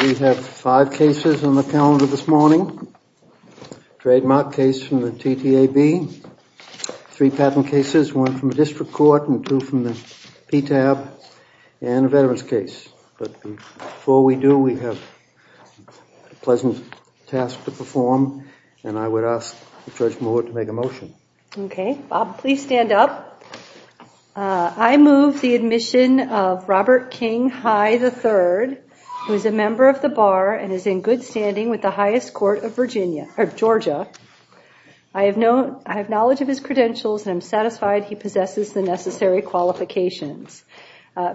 We have five cases on the calendar this morning, a trademark case from the TTAB, three patent cases, one from the district court and two from the PTAB, and a veteran's case. But before we do, we have a pleasant task to perform, and I would ask Judge Moore to make a motion. Okay. Bob, please stand up. I move the admission of Robert King High III, who is a member of the bar and is in good standing with the highest court of Georgia. I have knowledge of his credentials and I'm satisfied he possesses the necessary qualifications.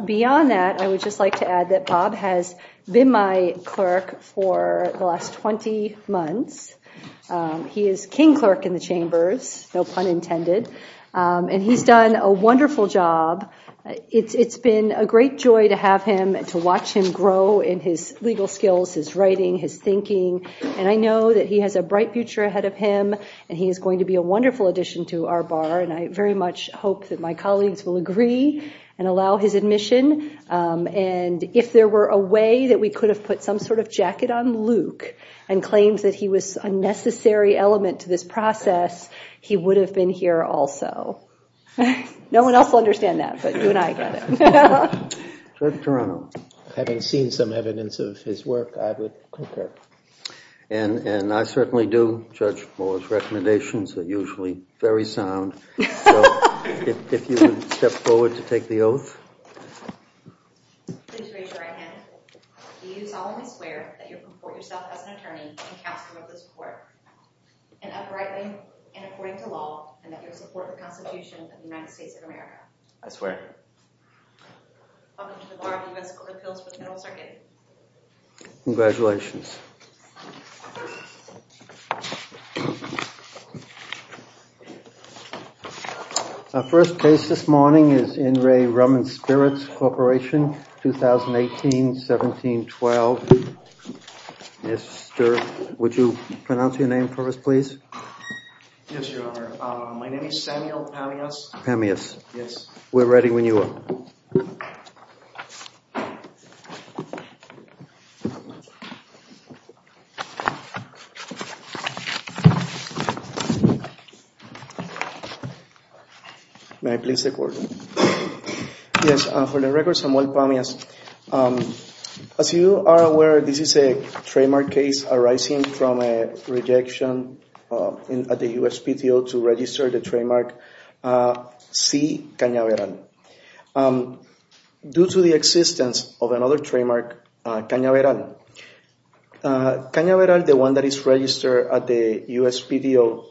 Beyond that, I would just like to add that Bob has been my clerk for the last 20 months. He is king clerk in the chambers, no pun intended, and he's done a wonderful job. It's been a great joy to have him and to watch him grow in his legal skills, his writing, his thinking, and I know that he has a bright future ahead of him and he is going to be a wonderful addition to our bar, and I very much hope that my colleagues will agree and allow his admission. And if there were a way that we could have put some sort of jacket on Luke and claimed that he was a necessary element to this process, he would have been here also. No one else will understand that, but you and I get it. Judge Toronto, having seen some evidence of his work, I would concur. And I certainly do. Judge Moore's recommendations are usually very sound. So, if you would step forward to take the oath. Please raise your right hand. I solemnly swear that you will report yourself as an attorney and counsel of this court, and uprightly and according to law, and that you will support the Constitution of the United States of America. I swear. Welcome to the Bar of U.S. Court of Appeals for the Federal Circuit. Congratulations. Our first case this morning is In Re Ruman Spirits Corporation, 2018-17-12. Mr. – would you pronounce your name for us, please? Yes, Your Honor. My name is Samuel Pamius. Pamius. Yes. We're ready when you are. Thank you. May I please take order? Yes, for the record, Samuel Pamius. As you are aware, this is a trademark case arising from a rejection at the USPTO to register the trademark C. Cañaveral. Due to the existence of another trademark, Cañaveral, Cañaveral, the one that is registered at the USPTO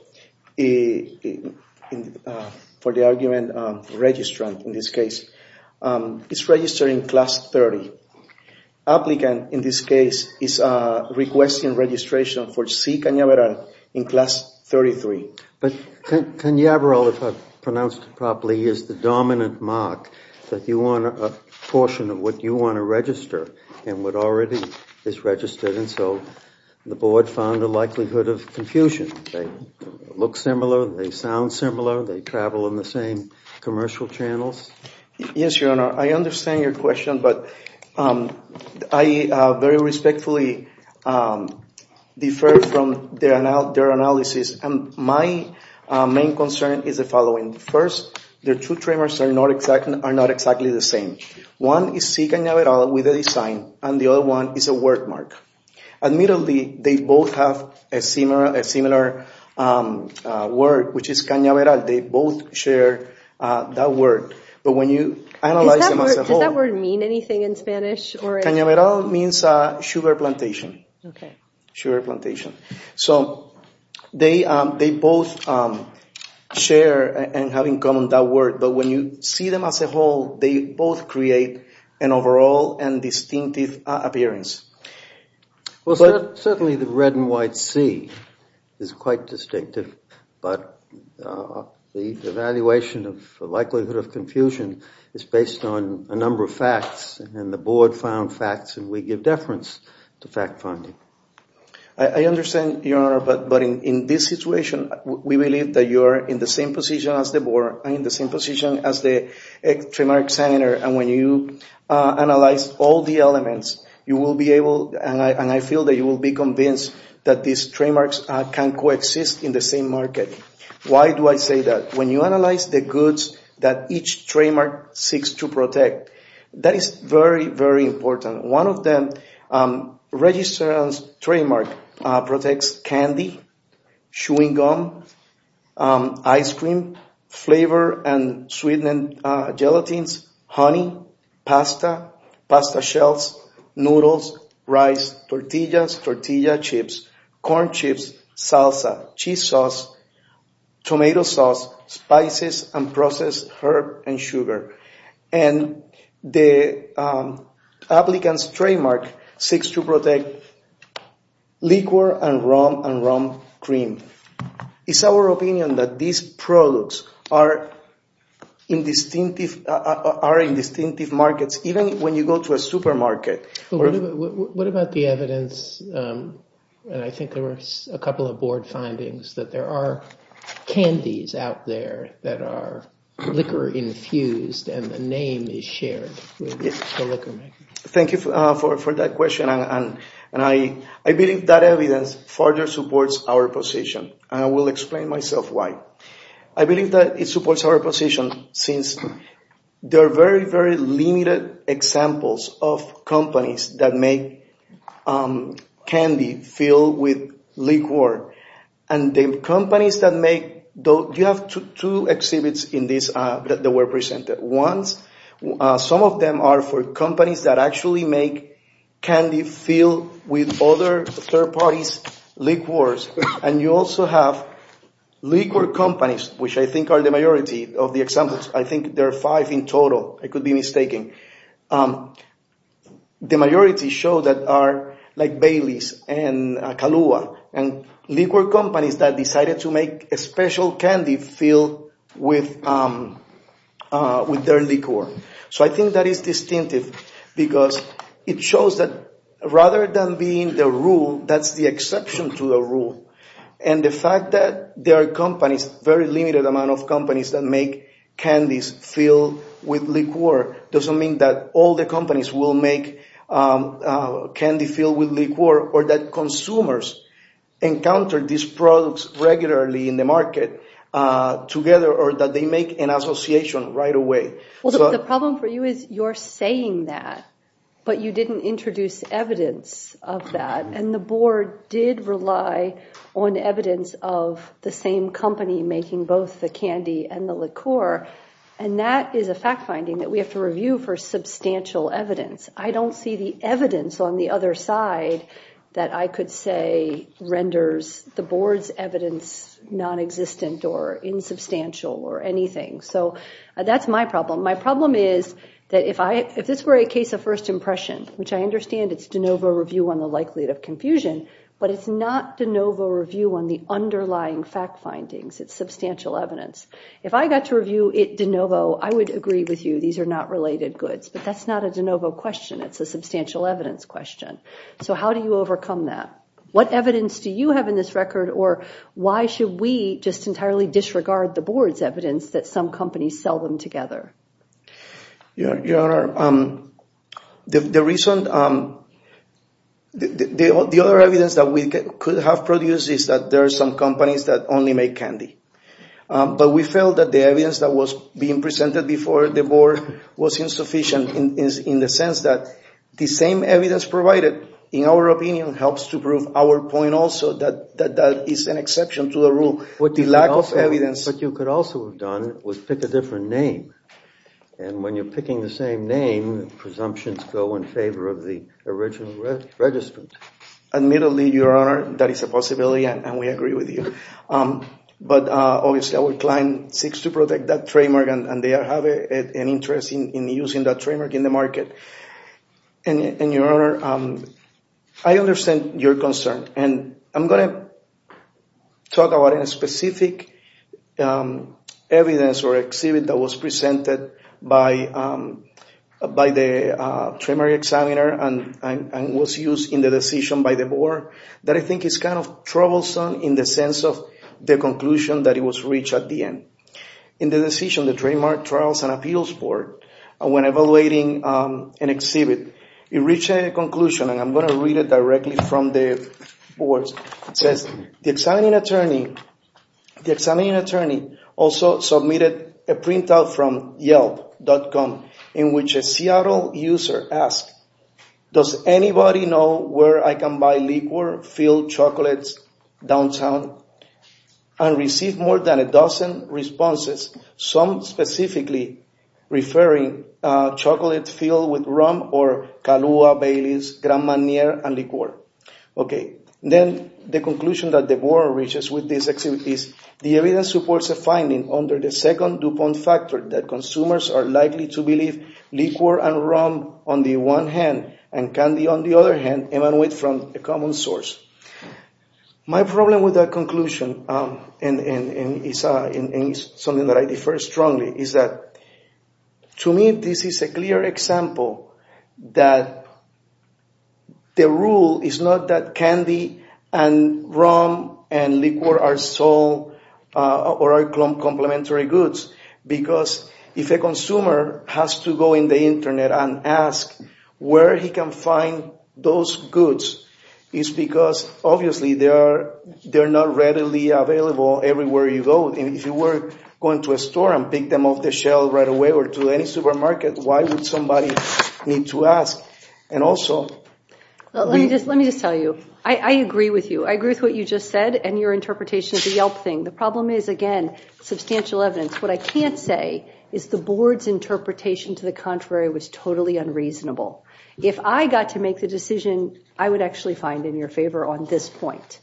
for the argument registrant in this case, is registered in Class 30. Applicant, in this case, is requesting registration for C. Cañaveral in Class 33. But Cañaveral, if I pronounced it properly, is the dominant mark that you want a portion of what you want to register and what already is registered, and so the board found a likelihood of confusion. They look similar. They sound similar. They travel in the same commercial channels. Yes, Your Honor. I understand your question, but I very respectfully defer from their analysis. My main concern is the following. First, their two trademarks are not exactly the same. One is C. Cañaveral with a design, and the other one is a word mark. Admittedly, they both have a similar word, which is Cañaveral. They both share that word. But when you analyze them as a whole... Does that word mean anything in Spanish? Cañaveral means sugar plantation. Okay. Sugar plantation. So they both share and have in common that word, but when you see them as a whole, they both create an overall and distinctive appearance. Well, certainly the red and white C is quite distinctive, but the evaluation of likelihood of confusion is based on a number of facts, and the board found facts, and we give deference to fact-finding. I understand, Your Honor, but in this situation, we believe that you are in the same position as the board, and in the same position as the Trademark Center, and when you analyze all the elements, you will be able, and I feel that you will be convinced that these trademarks can coexist in the same market. Why do I say that? When you analyze the goods that each trademark seeks to protect, that is very, very important. One of them, Registrar's trademark protects candy, chewing gum, ice cream, flavor and sweetened gelatins, honey, pasta, pasta shells, noodles, rice, tortillas, tortilla chips, corn chips, salsa, cheese sauce, tomato sauce, spices, and processed herb and sugar. And the applicant's trademark seeks to protect liquor and rum and rum cream. It's our opinion that these products are in distinctive markets, even when you go to a supermarket. What about the evidence, and I think there were a couple of board findings, that there are candies out there that are liquor infused, and the name is shared with the liquor maker. Thank you for that question, and I believe that evidence further supports our position, and I will explain myself why. I believe that it supports our position since there are very, very limited examples of companies that make candy filled with liqueur, and the companies that make, you have two exhibits in this that were presented. One, some of them are for companies that actually make candy filled with other third parties' liqueurs, and you also have liqueur companies, which I think are the majority of the examples. I think there are five in total. I could be mistaken. The majority show that are like Bailey's and Kahlua, and liqueur companies that decided to make a special candy filled with their liqueur. So I think that is distinctive because it shows that rather than being the rule, that's the exception to the rule, and the fact that there are companies, very limited amount of the companies will make candy filled with liqueur or that consumers encounter these products regularly in the market together or that they make an association right away. The problem for you is you're saying that, but you didn't introduce evidence of that, and the board did rely on evidence of the same company making both the candy and the liqueur substantial evidence. I don't see the evidence on the other side that I could say renders the board's evidence non-existent or insubstantial or anything. So that's my problem. My problem is that if this were a case of first impression, which I understand it's de novo review on the likelihood of confusion, but it's not de novo review on the underlying fact findings. It's substantial evidence. If I got to review it de novo, I would agree with you. These are not related goods, but that's not a de novo question. It's a substantial evidence question. So how do you overcome that? What evidence do you have in this record or why should we just entirely disregard the board's evidence that some companies sell them together? Your Honor, the other evidence that we could have produced is that there are some companies that only make candy. But we felt that the evidence that was being presented before the board was insufficient in the sense that the same evidence provided, in our opinion, helps to prove our point also that that is an exception to the rule. What you could also have done was pick a different name. And when you're picking the same name, presumptions go in favor of the original register. Admittedly, Your Honor, that is a possibility and we agree with you. But obviously our client seeks to protect that trademark and they have an interest in using that trademark in the market. And Your Honor, I understand your concern. And I'm going to talk about a specific evidence or exhibit that was presented by the board that I think is kind of troublesome in the sense of the conclusion that was reached at the end. In the decision, the Trademark Trials and Appeals Board, when evaluating an exhibit, it reached a conclusion and I'm going to read it directly from the board. It says, the examining attorney also submitted a printout from Yelp.com in which a Seattle user asked, does anybody know where I can buy liqueur filled chocolates downtown? And received more than a dozen responses, some specifically referring chocolate filled with rum or Kahlua, Baileys, Grand Marnier and liqueur. Okay. Then the conclusion that the board reaches with this exhibit is, the evidence supports a finding under the second DuPont factor that consumers are likely to believe liqueur and rum on the one hand and candy on the other hand emanate from a common source. My problem with that conclusion, and it's something that I defer strongly, is that to me, this is a clear example that the rule is not that candy and rum and liqueur are complementary goods because if a consumer has to go on the internet and ask where he can find those goods, it's because obviously they are not readily available everywhere you go. If you were going to a store and pick them off the shelf right away or to any supermarket, why would somebody need to ask? And also... Let me just tell you, I agree with you. I agree with what you just said and your interpretation of the Yelp thing. The problem is, again, substantial evidence. What I can't say is the board's interpretation to the contrary was totally unreasonable. If I got to make the decision, I would actually find in your favor on this point.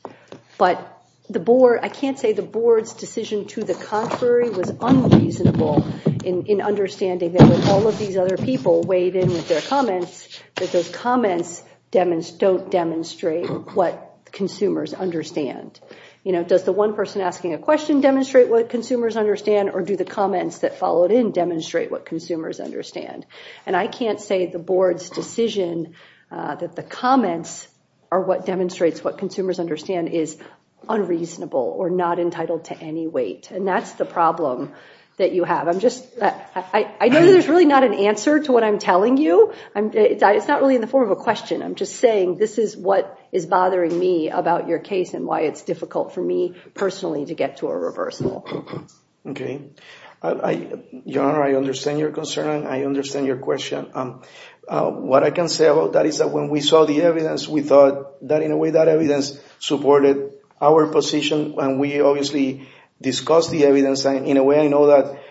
But I can't say the board's decision to the contrary was unreasonable in understanding that with all of these other people weighed in with their comments, that those comments don't demonstrate what consumers understand. Does the one person asking a question demonstrate what consumers understand or do the comments that followed in demonstrate what consumers understand? And I can't say the board's decision that the comments are what demonstrates what consumers understand is unreasonable or not entitled to any weight. And that's the problem that you have. I'm just... I know that there's really not an answer to what I'm telling you. It's not really in the form of a question. I'm just saying this is what is bothering me about your case and why it's difficult for me personally to get to a reversal. Okay. Your Honor, I understand your concern. I understand your question. What I can say about that is that when we saw the evidence, we thought that in a way that evidence supported our position. And we obviously discussed the evidence. In a way, I know that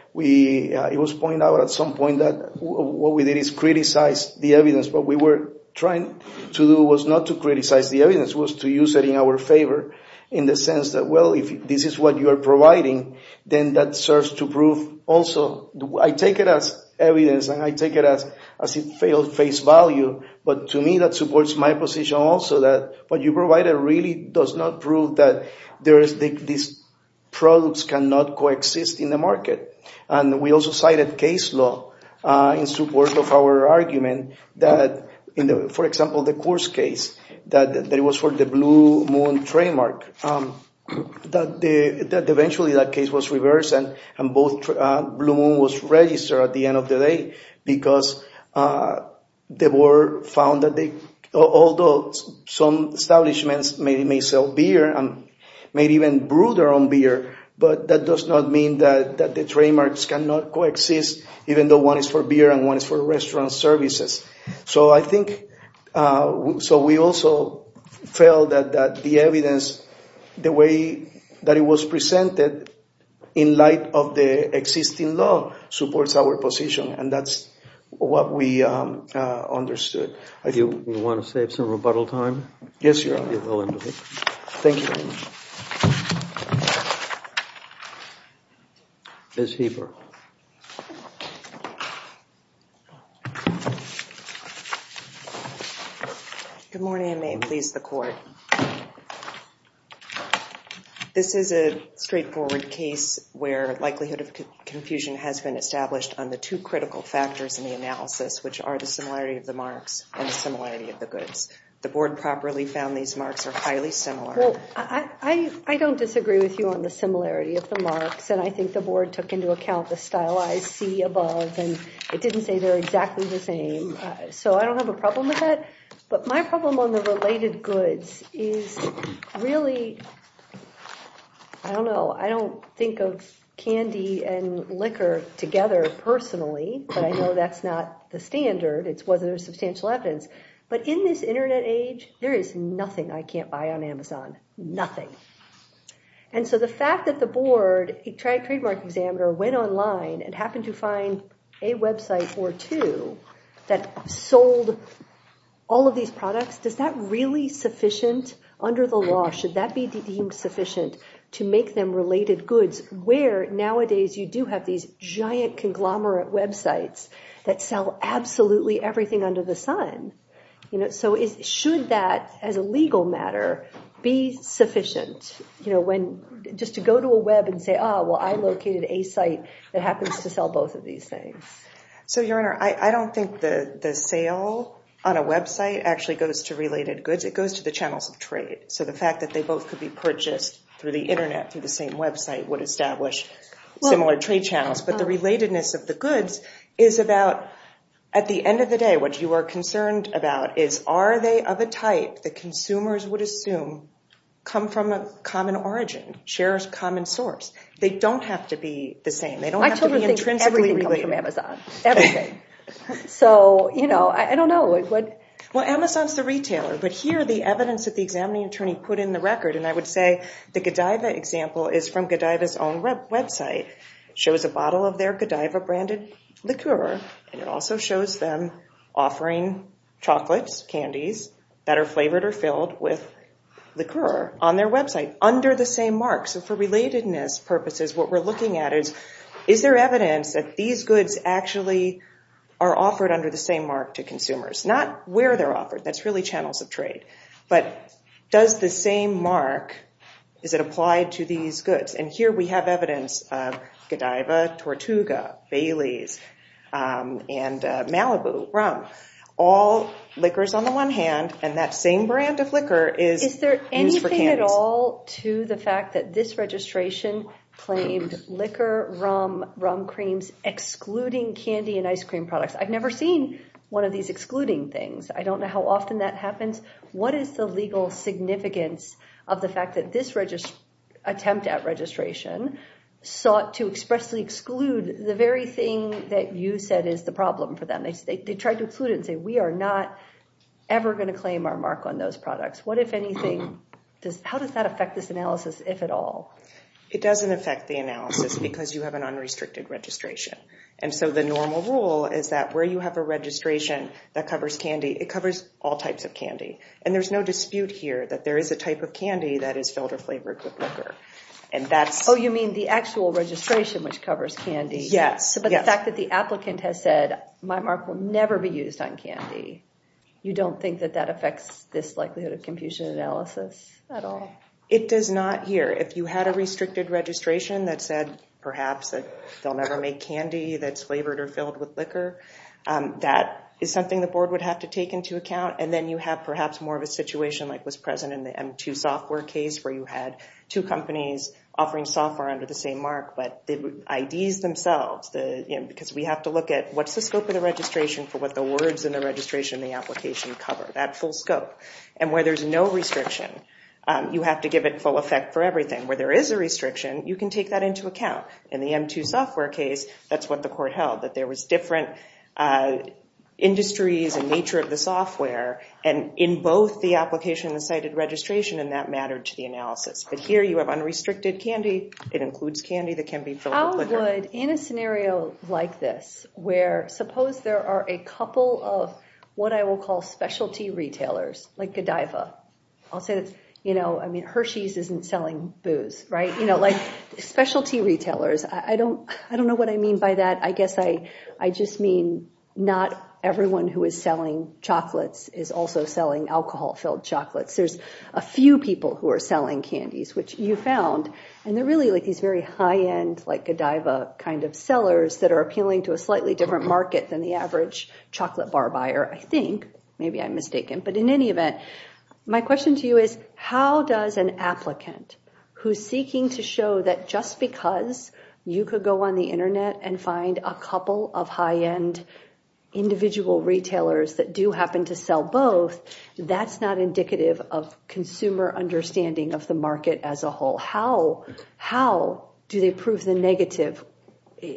it was pointed out at some point that what we did is criticize the evidence. What we were trying to do was not to criticize the evidence. It was to use it in our favor in the sense that, well, if this is what you are providing, then that serves to prove also... I take it as evidence and I take it as a failed face value. But to me, that supports my position also that what you provided really does not prove that these products cannot coexist in the market. And we also cited case law in support of our argument that, for example, the Coors case that it was for the Blue Moon trademark, that eventually that case was reversed and both Blue Moon was registered at the end of the day because the board found that although some establishments may sell beer and may even brew their own beer, but that does not mean that the trademarks cannot coexist even though one is for beer and one is for restaurant services. So I think... So we also felt that the evidence, the way that it was presented in light of the existing law supports our position. And that's what we understood. Do you want to save some rebuttal time? Yes, Your Honor. Thank you. Ms. Heber. Good morning and may it please the Court. This is a straightforward case where likelihood of confusion has been established on the two goods. The board properly found these marks are highly similar. I don't disagree with you on the similarity of the marks. And I think the board took into account the stylized C above and it didn't say they're exactly the same. So I don't have a problem with that. But my problem on the related goods is really, I don't know. I don't think of candy and liquor together personally, but I know that's not the standard. It's whether there's substantial evidence. But in this internet age, there is nothing I can't buy on Amazon. Nothing. And so the fact that the board, a trademark examiner, went online and happened to find a website or two that sold all of these products, does that really sufficient under the law? Should that be deemed sufficient to make them related goods? Nowadays, you do have these giant conglomerate websites that sell absolutely everything under the sun. So should that, as a legal matter, be sufficient? Just to go to a web and say, oh, well, I located a site that happens to sell both of these things. So, Your Honor, I don't think the sale on a website actually goes to related goods. It goes to the channels of trade. So the fact that they both could be purchased through the internet, through the same website, would establish similar trade channels. But the relatedness of the goods is about, at the end of the day, what you are concerned about is, are they of a type that consumers would assume come from a common origin, share a common source? They don't have to be the same. They don't have to be intrinsically related. I totally think everything comes from Amazon. Everything. So, you know, I don't know. Well, Amazon's the retailer. But here, the evidence that the examining attorney put in the record, and I would say the Godiva example is from Godiva's own website, shows a bottle of their Godiva-branded liqueur and it also shows them offering chocolates, candies, that are flavored or filled with liqueur on their website under the same mark. So for relatedness purposes, what we're looking at is, is there evidence that these goods actually are offered under the same mark to consumers? Not where they're offered. That's really channels of trade. But does the same mark, is it applied to these goods? And here we have evidence of Godiva, Tortuga, Bailey's, and Malibu Rum. All liqueurs on the one hand, and that same brand of liqueur is used for candies. Is there anything at all to the fact that this registration claimed liqueur, rum, rum creams excluding candy and ice cream products? I've never seen one of these excluding things. I don't know how often that happens. What is the legal significance of the fact that this attempt at registration sought to expressly exclude the very thing that you said is the problem for them? They tried to exclude it and say, we are not ever going to claim our mark on those products. What if anything, how does that affect this analysis, if at all? It doesn't affect the analysis because you have an unrestricted registration. And so the normal rule is that where you have a registration that covers candy, it covers all types of candy. And there's no dispute here that there is a type of candy that is filter flavored with liqueur. Oh, you mean the actual registration which covers candy? Yes. But the fact that the applicant has said, my mark will never be used on candy, you don't think that that affects this likelihood of confusion analysis at all? It does not here. If you had a restricted registration that said perhaps that they'll never make candy that's flavored or filled with liquor, that is something the board would have to take into account. And then you have perhaps more of a situation like was present in the M2 software case where you had two companies offering software under the same mark. But the IDs themselves, because we have to look at what's the scope of the registration for what the words in the registration in the application cover, that full scope. And where there's no restriction, you have to give it full effect for everything. Where there is a restriction, you can take that into account. In the M2 software case, that's what the court held, that there was different industries and nature of the software. And in both the application and the cited registration, and that mattered to the analysis. But here you have unrestricted candy. It includes candy that can be filled with liquor. I would, in a scenario like this, where suppose there are a couple of what I will call specialty retailers, like Godiva. I'll say that's, you know, I mean Hershey's isn't selling booze, right? You know, like specialty retailers. I don't know what I mean by that. I guess I just mean not everyone who is selling chocolates is also selling alcohol-filled chocolates. There's a few people who are selling candies, which you found. And they're really like these very high-end, like Godiva kind of sellers that are appealing to a slightly different market than the average chocolate bar buyer, I think. Maybe I'm mistaken. But in any event, my question to you is how does an applicant who's seeking to show that just because you could go on the Internet and find a couple of high-end individual retailers that do happen to sell both, that's not indicative of consumer understanding of the market as a whole. How do they prove the negative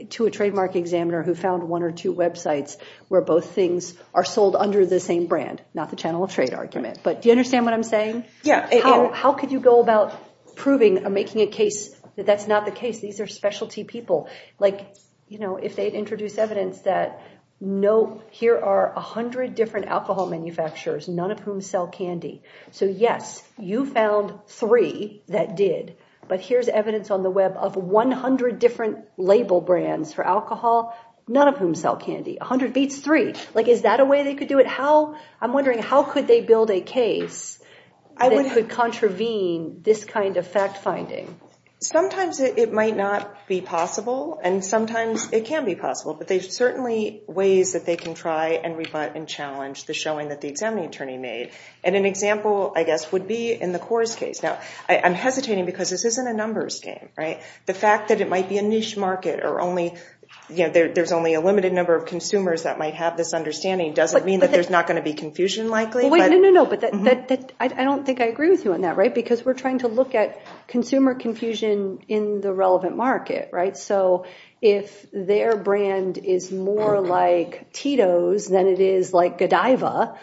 to a trademark examiner who found one or two websites where both things are sold under the same brand, not the channel of trade argument. But do you understand what I'm saying? How could you go about proving or making a case that that's not the case? These are specialty people. Like, you know, if they introduce evidence that no, here are 100 different alcohol manufacturers, none of whom sell candy. So yes, you found three that did. But here's evidence on the web of 100 different label brands for alcohol, none of whom sell candy. 100 beats three. Like, is that a way they could do it? I'm wondering, how could they build a case that could contravene this kind of fact-finding? Sometimes it might not be possible, and sometimes it can be possible. But there's certainly ways that they can try and rebut and challenge the showing that the examining attorney made. And an example, I guess, would be in the Coors case. Now, I'm hesitating because this isn't a numbers game, right? The fact that it might be a niche market or there's only a limited number of consumers that might have this understanding doesn't mean that there's not going to be confusion likely. Wait, no, no, no. But I don't think I agree with you on that, right? Because we're trying to look at consumer confusion in the relevant market, right? So if their brand is more like Tito's than it is like Godiva,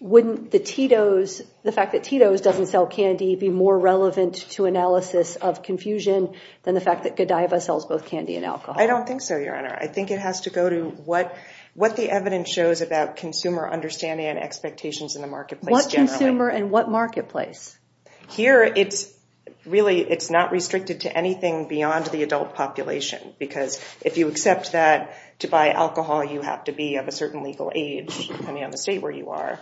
wouldn't the fact that Tito's doesn't sell candy be more relevant to analysis of confusion than the fact that Godiva sells both candy and alcohol? I don't think so, Your Honor. I think it has to go to what the evidence shows about consumer understanding and expectations in the marketplace generally. What consumer and what marketplace? Here, really, it's not restricted to anything beyond the adult population. Because if you accept that to buy alcohol you have to be of a certain legal age, depending on the state where you are,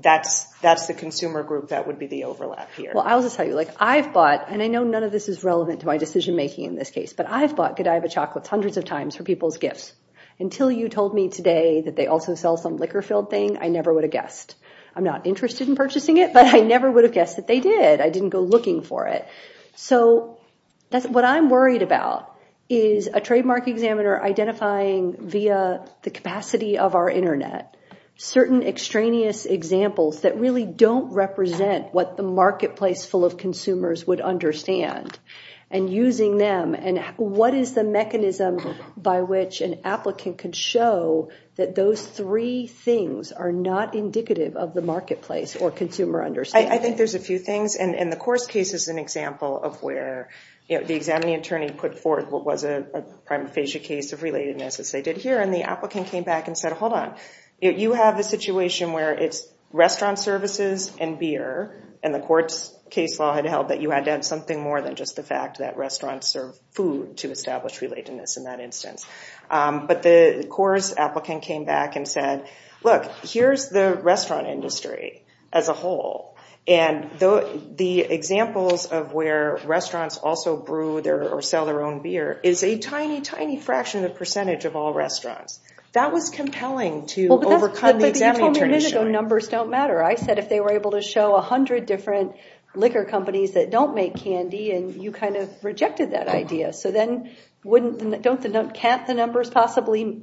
that's the consumer group that would be the overlap here. Well, I'll just tell you. I've bought, and I know none of this is relevant to my decision-making in this case, but I've bought Godiva chocolates hundreds of times for people's gifts. Until you told me today that they also sell some liquor-filled thing, I never would have guessed. I'm not interested in purchasing it, but I never would have guessed that they did. I didn't go looking for it. What I'm worried about is a trademark examiner identifying via the capacity of our Internet certain extraneous examples that really don't represent what the marketplace full of consumers would understand and using them and what is the mechanism by which an applicant can show that those three things are not indicative of the marketplace or consumer understanding. I think there's a few things, and the Coors case is an example of where the examining attorney put forth what was a prima facie case of relatedness, as they did here, and the applicant came back and said, hold on. You have a situation where it's restaurant services and beer, and the court's case law had held that you had to have something more than just the fact that restaurants serve food to establish relatedness in that instance. But the Coors applicant came back and said, look, here's the restaurant industry as a whole, and the examples of where restaurants also brew or sell their own beer is a tiny, tiny fraction of the percentage of all restaurants. That was compelling to overcome the examining attorney's showing. But you told me a minute ago numbers don't matter. I said if they were able to show 100 different liquor companies that don't make candy, and you kind of rejected that idea. Can't the numbers possibly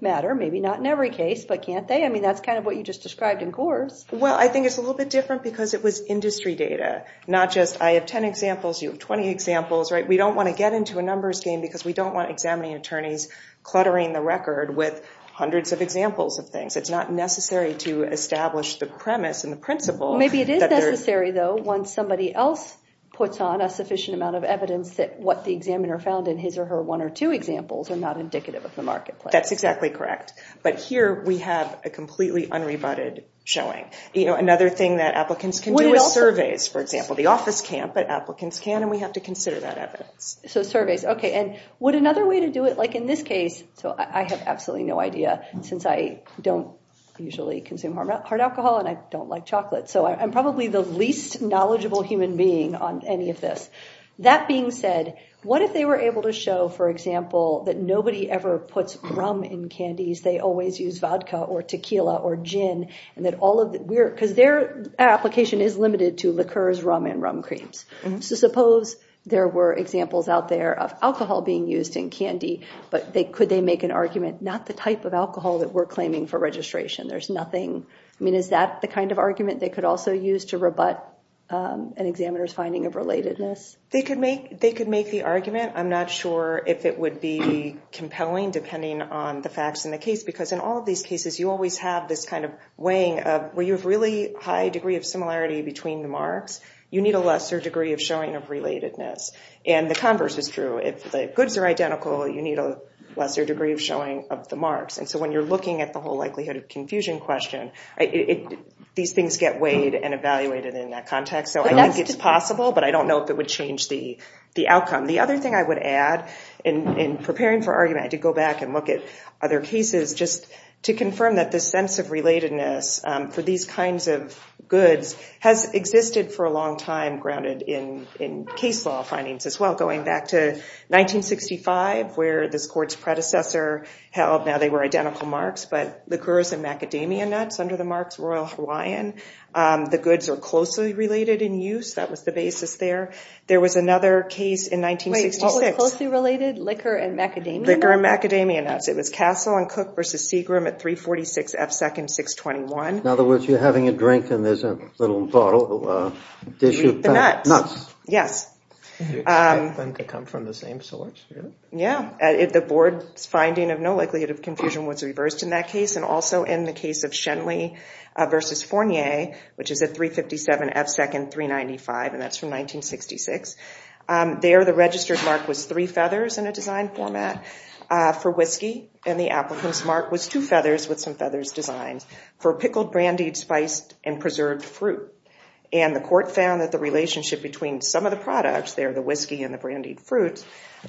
matter? Maybe not in every case, but can't they? I mean, that's kind of what you just described in Coors. Well, I think it's a little bit different because it was industry data, not just I have 10 examples, you have 20 examples. We don't want to get into a numbers game because we don't want examining attorneys cluttering the record with hundreds of examples of things. It's not necessary to establish the premise and the principle. Maybe it is necessary, though, once somebody else puts on a sufficient amount of evidence that what the examiner found in his or her one or two examples are not indicative of the marketplace. That's exactly correct. But here we have a completely unrebutted showing. Another thing that applicants can do is surveys, for example. The office can't, but applicants can, and we have to consider that evidence. So surveys. Okay, and would another way to do it, like in this case, so I have absolutely no idea since I don't usually consume hard alcohol and I don't like chocolate, so I'm probably the least knowledgeable human being on any of this. That being said, what if they were able to show, for example, that nobody ever puts rum in candies, they always use vodka or tequila or gin, because their application is limited to liqueurs, rum, and rum creams. So suppose there were examples out there of alcohol being used in candy, but could they make an argument, not the type of alcohol that we're claiming for registration. There's nothing. I mean, is that the kind of argument they could also use to rebut an examiner's finding of relatedness? They could make the argument. I'm not sure if it would be compelling, depending on the facts in the case, because in all of these cases you always have this kind of weighing of, where you have really high degree of similarity between the marks, you need a lesser degree of showing of relatedness. And the converse is true. If the goods are identical, you need a lesser degree of showing of the marks. And so when you're looking at the whole likelihood of confusion question, these things get weighed and evaluated in that context. So I think it's possible, but I don't know if it would change the outcome. The other thing I would add, in preparing for argument, I did go back and look at other cases just to confirm that this sense of relatedness for these kinds of goods has existed for a long time, grounded in case law findings as well, going back to 1965, where this court's predecessor held, now they were identical marks, but liqueurs and macadamia nuts under the marks, Royal Hawaiian. The goods are closely related in use. That was the basis there. There was another case in 1966. Wait, what was closely related? Liquor and macadamia nuts? Liquor and macadamia nuts. It was Castle and Cook v. Seagram at 346 F. Second, 621. In other words, you're having a drink, and there's a little bottle, a dish of nuts. Yes. Do you expect them to come from the same source? Yeah. The board's finding of no likelihood of confusion was reversed in that case, and also in the case of Schenley v. Fournier, which is at 357 F. Second, 395, and that's from 1966. There the registered mark was three feathers in a design format for whiskey, and the applicant's mark was two feathers with some feathers designed for pickled, brandied, spiced, and preserved fruit. And the court found that the relationship between some of the products there, the whiskey and the brandied fruit,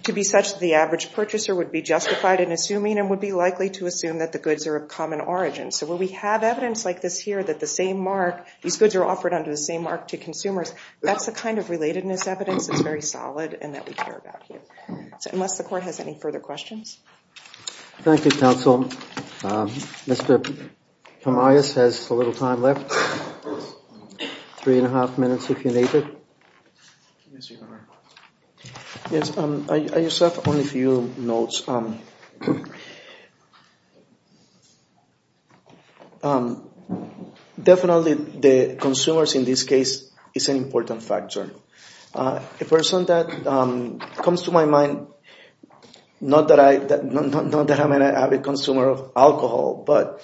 to be such that the average purchaser would be justified in assuming and would be likely to assume that the goods are of common origin. So when we have evidence like this here, that the same mark, these goods are offered under the same mark to consumers, that's the kind of relatedness evidence that's very solid and that we care about here. So unless the court has any further questions. Thank you, counsel. Mr. Pomares has a little time left, three and a half minutes if you need it. Thank you. Yes, I just have only a few notes. Definitely the consumers in this case is an important factor. A person that comes to my mind, not that I'm an avid consumer of alcohol, but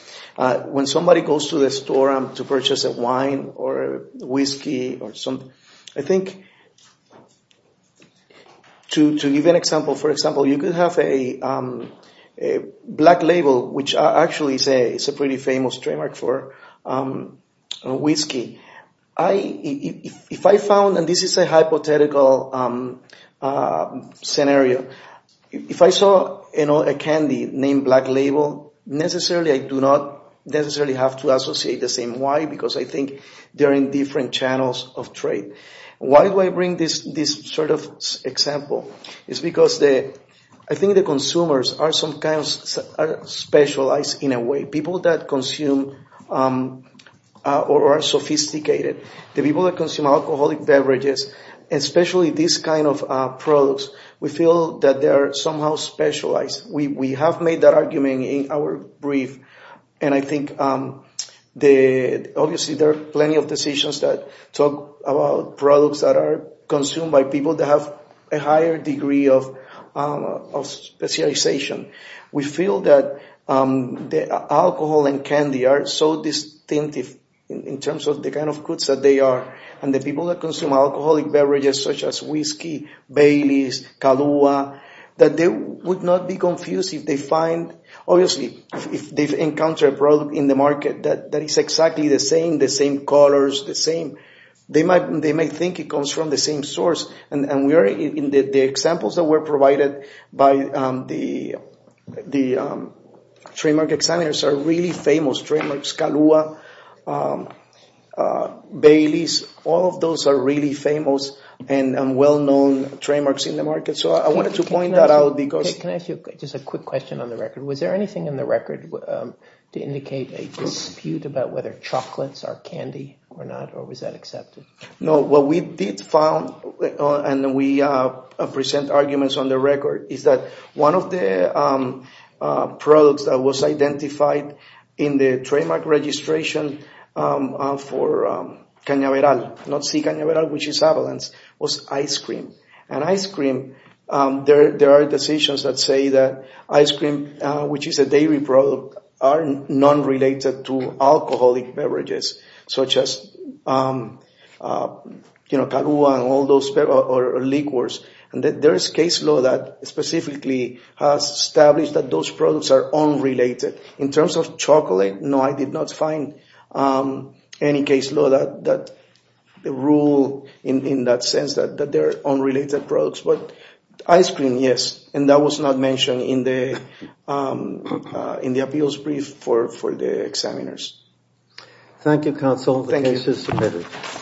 when somebody goes to the store to purchase a wine or a whiskey or something, I think to give an example, for example, you could have a black label, which I actually say is a pretty famous trademark for whiskey. If I found, and this is a hypothetical scenario, if I saw a candy named black label, necessarily I do not necessarily have to associate the same wine because I think they're in different channels of trade. Why do I bring this sort of example? It's because I think the consumers are specialized in a way. People that consume or are sophisticated, the people that consume alcoholic beverages, especially these kind of products, we feel that they are somehow specialized. We have made that argument in our brief, and I think obviously there are plenty of decisions that talk about products that are consumed by people that have a higher degree of specialization. We feel that alcohol and candy are so distinctive in terms of the kind of goods that they are, and the people that consume alcoholic beverages such as whiskey, Baileys, Kahlua, that they would not be confused if they find, obviously if they encounter a product in the market that is exactly the same, the same colors, the same. They might think it comes from the same source, and the examples that were provided by the trademark examiners are really famous. Trademarks Kahlua, Baileys, all of those are really famous and well-known trademarks in the market. So I wanted to point that out. Can I ask you just a quick question on the record? Was there anything in the record to indicate a dispute about whether chocolates are candy or not, or was that accepted? No. What we did find, and we present arguments on the record, is that one of the products that was identified in the trademark registration for Cañaveral, not C. Cañaveral, which is avalanche, was ice cream. And ice cream, there are decisions that say that ice cream, which is a dairy product, are non-related to alcoholic beverages such as Kahlua and all those, or liquors. And there is case law that specifically has established that those products are unrelated. In terms of chocolate, no, I did not find any case law that ruled in that sense that they're unrelated products. But ice cream, yes. And that was not mentioned in the appeals brief for the examiners. Thank you, Counsel. The case is submitted.